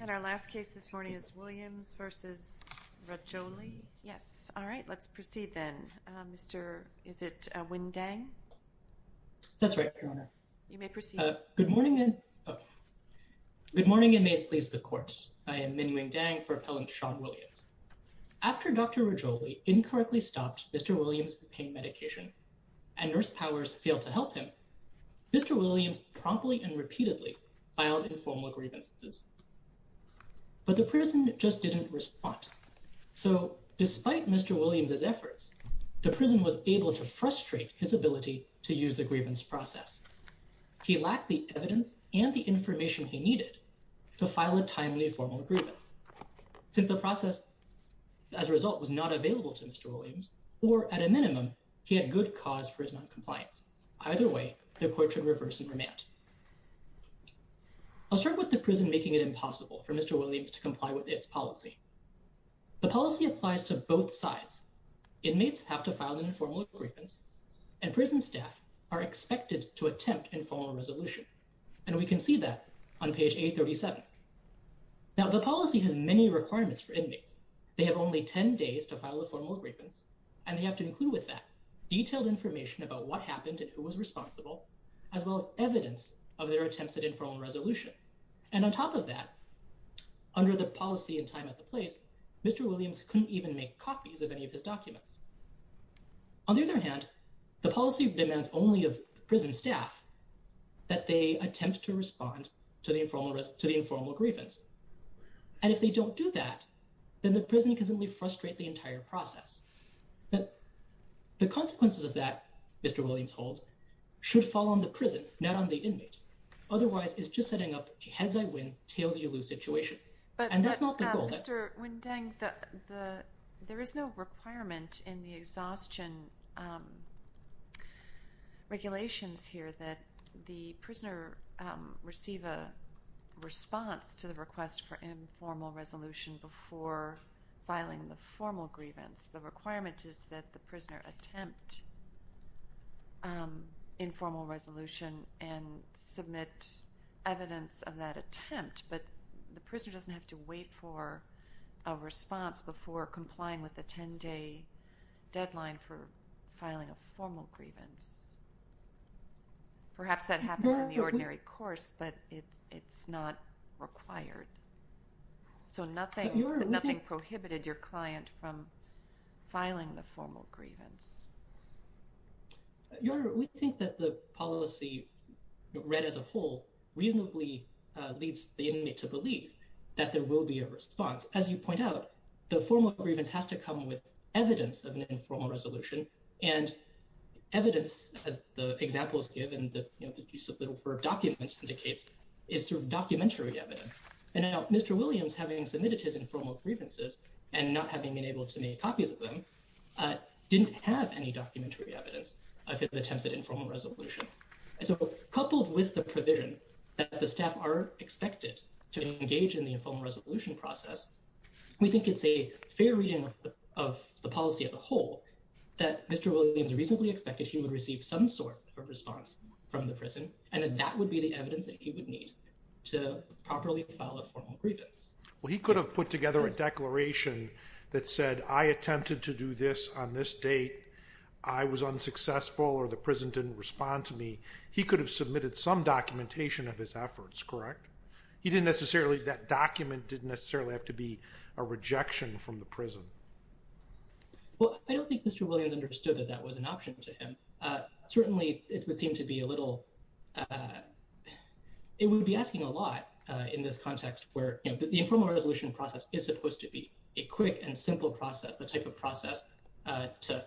And our last case this morning is Williams v. Rajoli. Yes, all right, let's proceed then. Mr. is it Wing Dang? That's right, Your Honor. You may proceed. Good morning and may it please the court. I am Min Wing Dang for Appellant Sean Williams. After Dr. Rajoli incorrectly stopped Mr. Williams' pain medication and nurse powers failed to help him, Mr. Williams promptly and repeatedly filed informal grievances. But the person just didn't respond. So despite Mr. Williams' efforts, the prison was able to frustrate his ability to use the grievance process. He lacked the evidence and the information he needed to file a timely formal grievance. Since the process as a result was not available to Mr. Williams, or at a minimum, he had good cause for his I'll start with the prison making it impossible for Mr. Williams to comply with its policy. The policy applies to both sides. Inmates have to file an informal grievance and prison staff are expected to attempt informal resolution. And we can see that on page 837. Now the policy has many requirements for inmates. They have only 10 days to file a formal grievance and they have to include with that detailed information about what happened and who was responsible, as well as of their attempts at informal resolution. And on top of that, under the policy and time at the place, Mr. Williams couldn't even make copies of any of his documents. On the other hand, the policy demands only of prison staff that they attempt to respond to the informal grievance. And if they don't do that, then the prison can simply frustrate the entire process. But the consequences of that, Mr. Williams holds, should fall on the prison, not on the inmate. Otherwise, it's just setting up a heads-I-win, tails-you-lose situation. But Mr. Wendeng, there is no requirement in the exhaustion regulations here that the prisoner receive a response to the request for informal resolution before filing the formal grievance. The requirement is that the prisoner attempt informal resolution and submit evidence of that attempt, but the prisoner doesn't have to wait for a response before complying with the 10-day deadline for filing a formal grievance. Perhaps that happens in the ordinary course, but it's not required. So nothing prohibited your client from filing the formal grievance. Your Honor, we think that the policy read as a whole reasonably leads the inmate to believe that there will be a response. As you point out, the formal grievance has to come with evidence, as the example is given, the use of the word document indicates, is through documentary evidence. And now Mr. Williams, having submitted his informal grievances and not having been able to make copies of them, didn't have any documentary evidence of his attempts at informal resolution. And so coupled with the provision that the staff are expected to engage in the informal resolution process, we think it's a fair reading of the policy as a whole that Mr. Williams reasonably expected he would receive some sort of response from the prison, and that would be the evidence that he would need to properly file a formal grievance. Well, he could have put together a declaration that said, I attempted to do this on this date, I was unsuccessful, or the prison didn't respond to me. He could have submitted some documentation of his efforts, correct? He didn't necessarily, that document didn't necessarily have to be a rejection from the prison. Well, I don't think Mr. Williams understood that that was an option to him. Certainly, it would seem to be a little, it would be asking a lot in this context where the informal resolution process is supposed to be a quick and simple process, the type of process to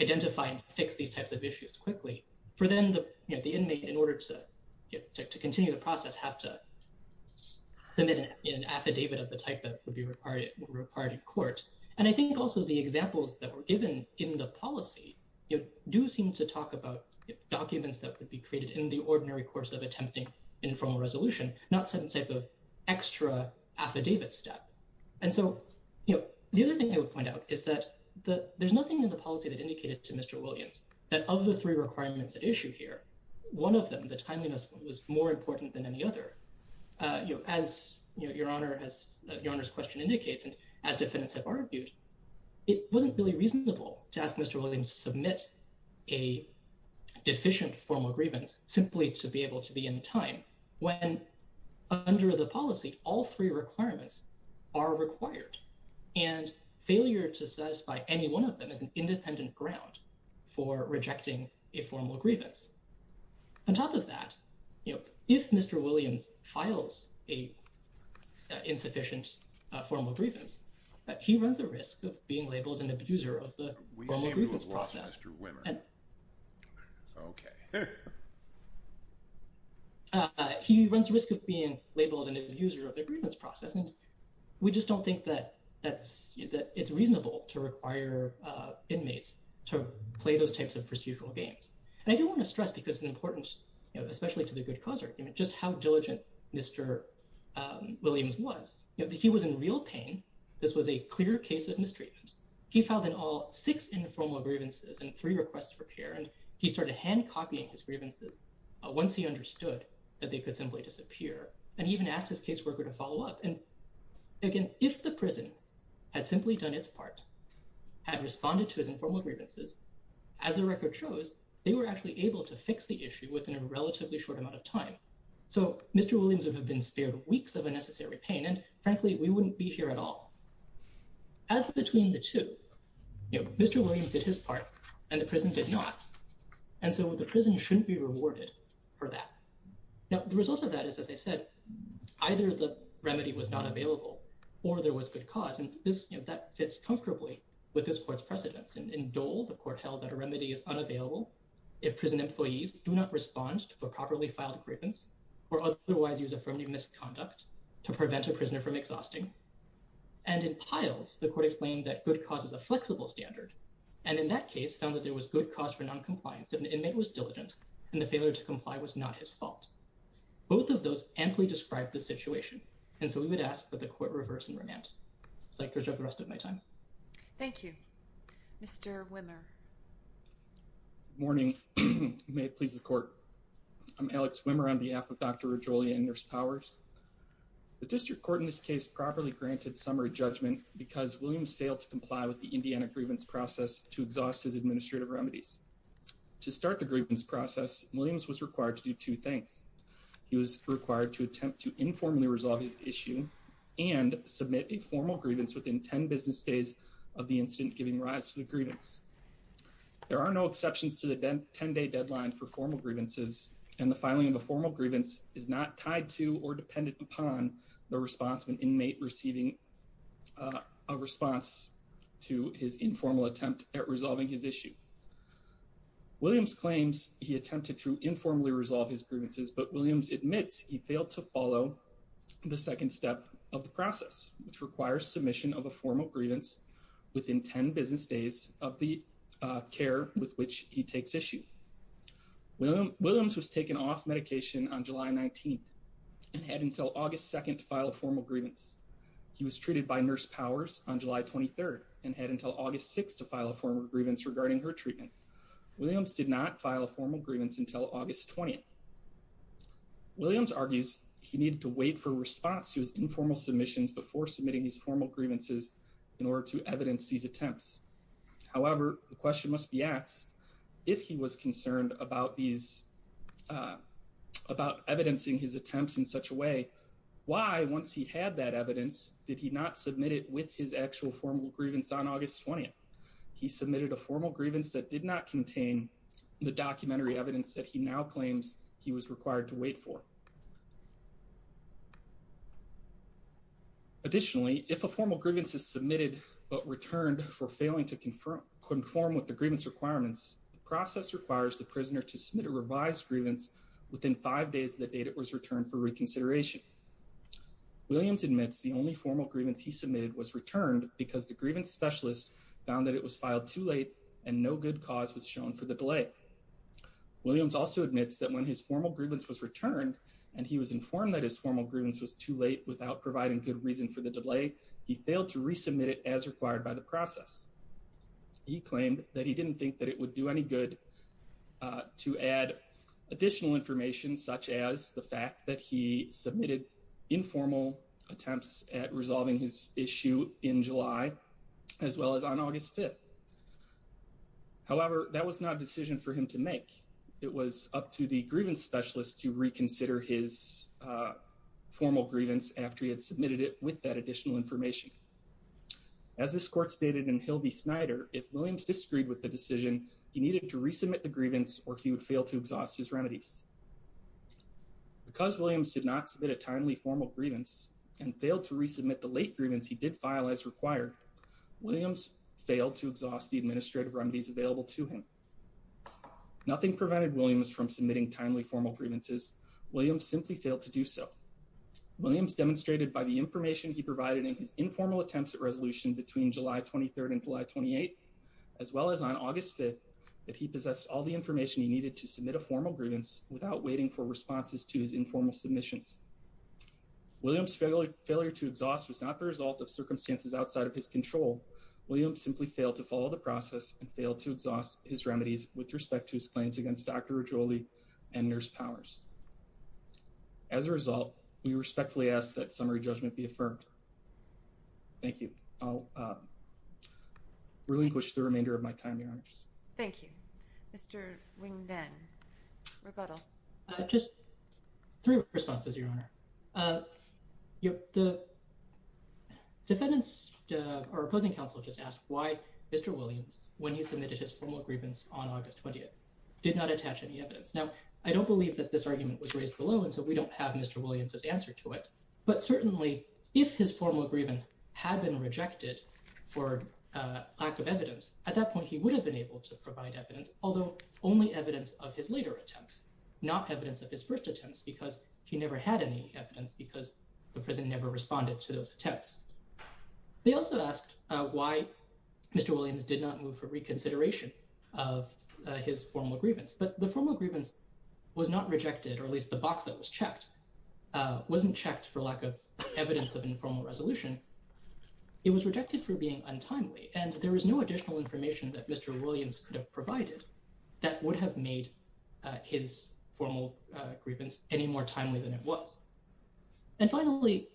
identify and fix these types of issues quickly. For them, the inmate, in order to court, and I think also the examples that were given in the policy do seem to talk about documents that could be created in the ordinary course of attempting informal resolution, not some type of extra affidavit step. And so, the other thing I would point out is that there's nothing in the policy that indicated to Mr. Williams that of the three requirements at issue here, one of them, the timeliness was more important than any other. As your honor's question indicates, as defendants have argued, it wasn't really reasonable to ask Mr. Williams to submit a deficient formal grievance simply to be able to be in time when under the policy, all three requirements are required. And failure to satisfy any one of them is an independent ground for rejecting a formal grievance. On top of that, if Mr. Williams files a insufficient formal grievance, he runs the risk of being labeled an abuser of the formal grievance process. He runs the risk of being labeled an abuser of the grievance process, and we just don't think that it's reasonable to require inmates to play those types of procedural games. And I do want to stress, because it's important, especially to the good cause argument, just how diligent Mr. Williams was. He was in real pain. This was a clear case of mistreatment. He filed in all six informal grievances and three requests for care, and he started hand-copying his grievances once he understood that they could simply disappear. And he even asked his caseworker to follow up. And again, if the prison had simply done its part, had responded to his informal grievances, as the record shows, they were actually able to fix the issue within a relatively short amount of time. So Mr. Williams would have been spared weeks of unnecessary pain, and frankly, we wouldn't be here at all. As between the two, Mr. Williams did his part and the prison did not, and so the prison shouldn't be rewarded for that. Now, the result of that is, as I said, either the remedy was not available or there was good cause, and that fits comfortably with this court's precedence. In Dole, the court held that a remedy is unavailable if prison employees do not respond to a properly filed grievance or otherwise use affirmative misconduct to prevent a prisoner from exhausting. And in Piles, the court explained that good cause is a flexible standard, and in that case found that there was good cause for non-compliance if an inmate was diligent and the failure to comply was not his fault. Both of those amply described the situation, and so we would ask that the court reverse and remand. I'd like to reserve the rest of my time. Thank you. Mr. Wimmer. Morning. May it please the court. I'm Alex Wimmer on behalf of Dr. Rajolia and Nurse Powers. The district court in this case properly granted summary judgment because Williams failed to comply with the Indiana grievance process to exhaust his administrative remedies. To start the grievance process, Williams was required to do two things. He was required to to informally resolve his issue and submit a formal grievance within 10 business days of the incident giving rise to the grievance. There are no exceptions to the 10-day deadline for formal grievances, and the filing of a formal grievance is not tied to or dependent upon the response of an inmate receiving a response to his informal attempt at resolving his issue. Williams claims he attempted to informally resolve his grievances, but Williams admits he failed to follow the second step of the process, which requires submission of a formal grievance within 10 business days of the care with which he takes issue. Williams was taken off medication on July 19th and had until August 2nd to file a formal grievance. He was treated by Nurse Powers on July 23rd and had until August 6th to file a formal grievance regarding her treatment. Williams did not file a formal grievance until August 20th. Williams argues he needed to wait for response to his informal submissions before submitting these formal grievances in order to evidence these attempts. However, the question must be asked if he was concerned about these about evidencing his attempts in such a way, why once he had that evidence did he not submit it with his actual formal grievance on August 20th? He submitted a formal grievance that did not contain the documentary evidence that he now claims he was required to wait for. Additionally, if a formal grievance is submitted but returned for failing to conform with the grievance requirements, the process requires the prisoner to submit a revised grievance within five days of the date it was returned for reconsideration. Williams admits the only formal grievance he submitted was returned because the grievance specialist found that was filed too late and no good cause was shown for the delay. Williams also admits that when his formal grievance was returned and he was informed that his formal grievance was too late without providing good reason for the delay, he failed to resubmit it as required by the process. He claimed that he didn't think that it would do any good to add additional information such as the fact that he submitted informal attempts at resolving his issue in July as well as on May 5th. However, that was not a decision for him to make. It was up to the grievance specialist to reconsider his formal grievance after he had submitted it with that additional information. As this court stated in Hilby Snyder, if Williams disagreed with the decision, he needed to resubmit the grievance or he would fail to exhaust his remedies. Because Williams did not submit a timely formal grievance and failed to resubmit the late grievance he did file as required, Williams failed to exhaust the administrative remedies available to him. Nothing prevented Williams from submitting timely formal grievances. Williams simply failed to do so. Williams demonstrated by the information he provided in his informal attempts at resolution between July 23rd and July 28th as well as on August 5th that he possessed all the information he needed to submit a formal grievance without waiting for responses to his informal submissions. Williams' failure to exhaust was not the result of circumstances outside of his control. Williams simply failed to follow the process and failed to exhaust his remedies with respect to his claims against Dr. Rigoli and nurse powers. As a result, we respectfully ask that summary judgment be affirmed. Thank you. I'll relinquish the remainder of my time, Your Honors. Thank you. Mr. Wing-Den, rebuttal. Just three responses, Your Honor. The defendant's or opposing counsel just asked why Mr. Williams, when he submitted his formal grievance on August 20th, did not attach any evidence. Now, I don't believe that this argument was raised below and so we don't have Mr. Williams' answer to it, but certainly if his formal grievance had been rejected for lack of evidence, at that point, he would have been able to provide evidence, although only evidence of his later attempts, not evidence of his first attempts because he never had any evidence because the President never responded to those attempts. They also asked why Mr. Williams did not move for reconsideration of his formal grievance, but the formal grievance was not rejected, or at least the box that was checked wasn't checked for lack of evidence of informal resolution. It was rejected for being untimely and there was no additional information that Mr. Williams could have provided that would have made his formal grievance any more timely than it was. And finally,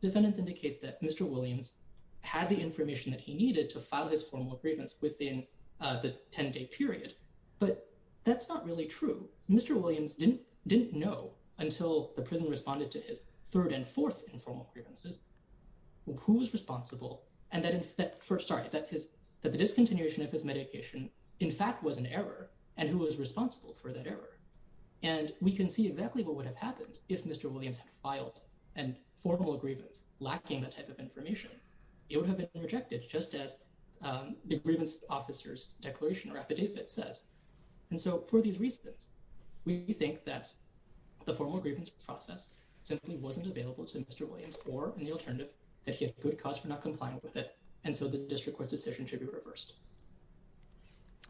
defendants indicate that Mr. Williams had the information that he needed to file his formal grievance within the 10-day period, but that's not really true. Mr. Williams didn't know until the prison responded to his third and fourth informal grievances who was responsible and that that the discontinuation of his medication, in fact, was an error and who was responsible for that error. And we can see exactly what would have happened if Mr. Williams had filed a formal grievance lacking that type of information. It would have been rejected just as the grievance officer's declaration or affidavit says. And so for these reasons, we think that the formal grievance process simply wasn't available to Mr. Williams or an alternative that he had good cause for not complying with it. And so the district court's decision should be reversed.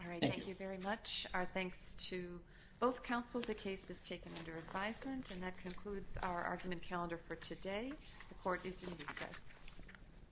All right. Thank you very much. Our thanks to both counsel. The case is taken under advisement and that concludes our argument calendar for today. The court is in recess.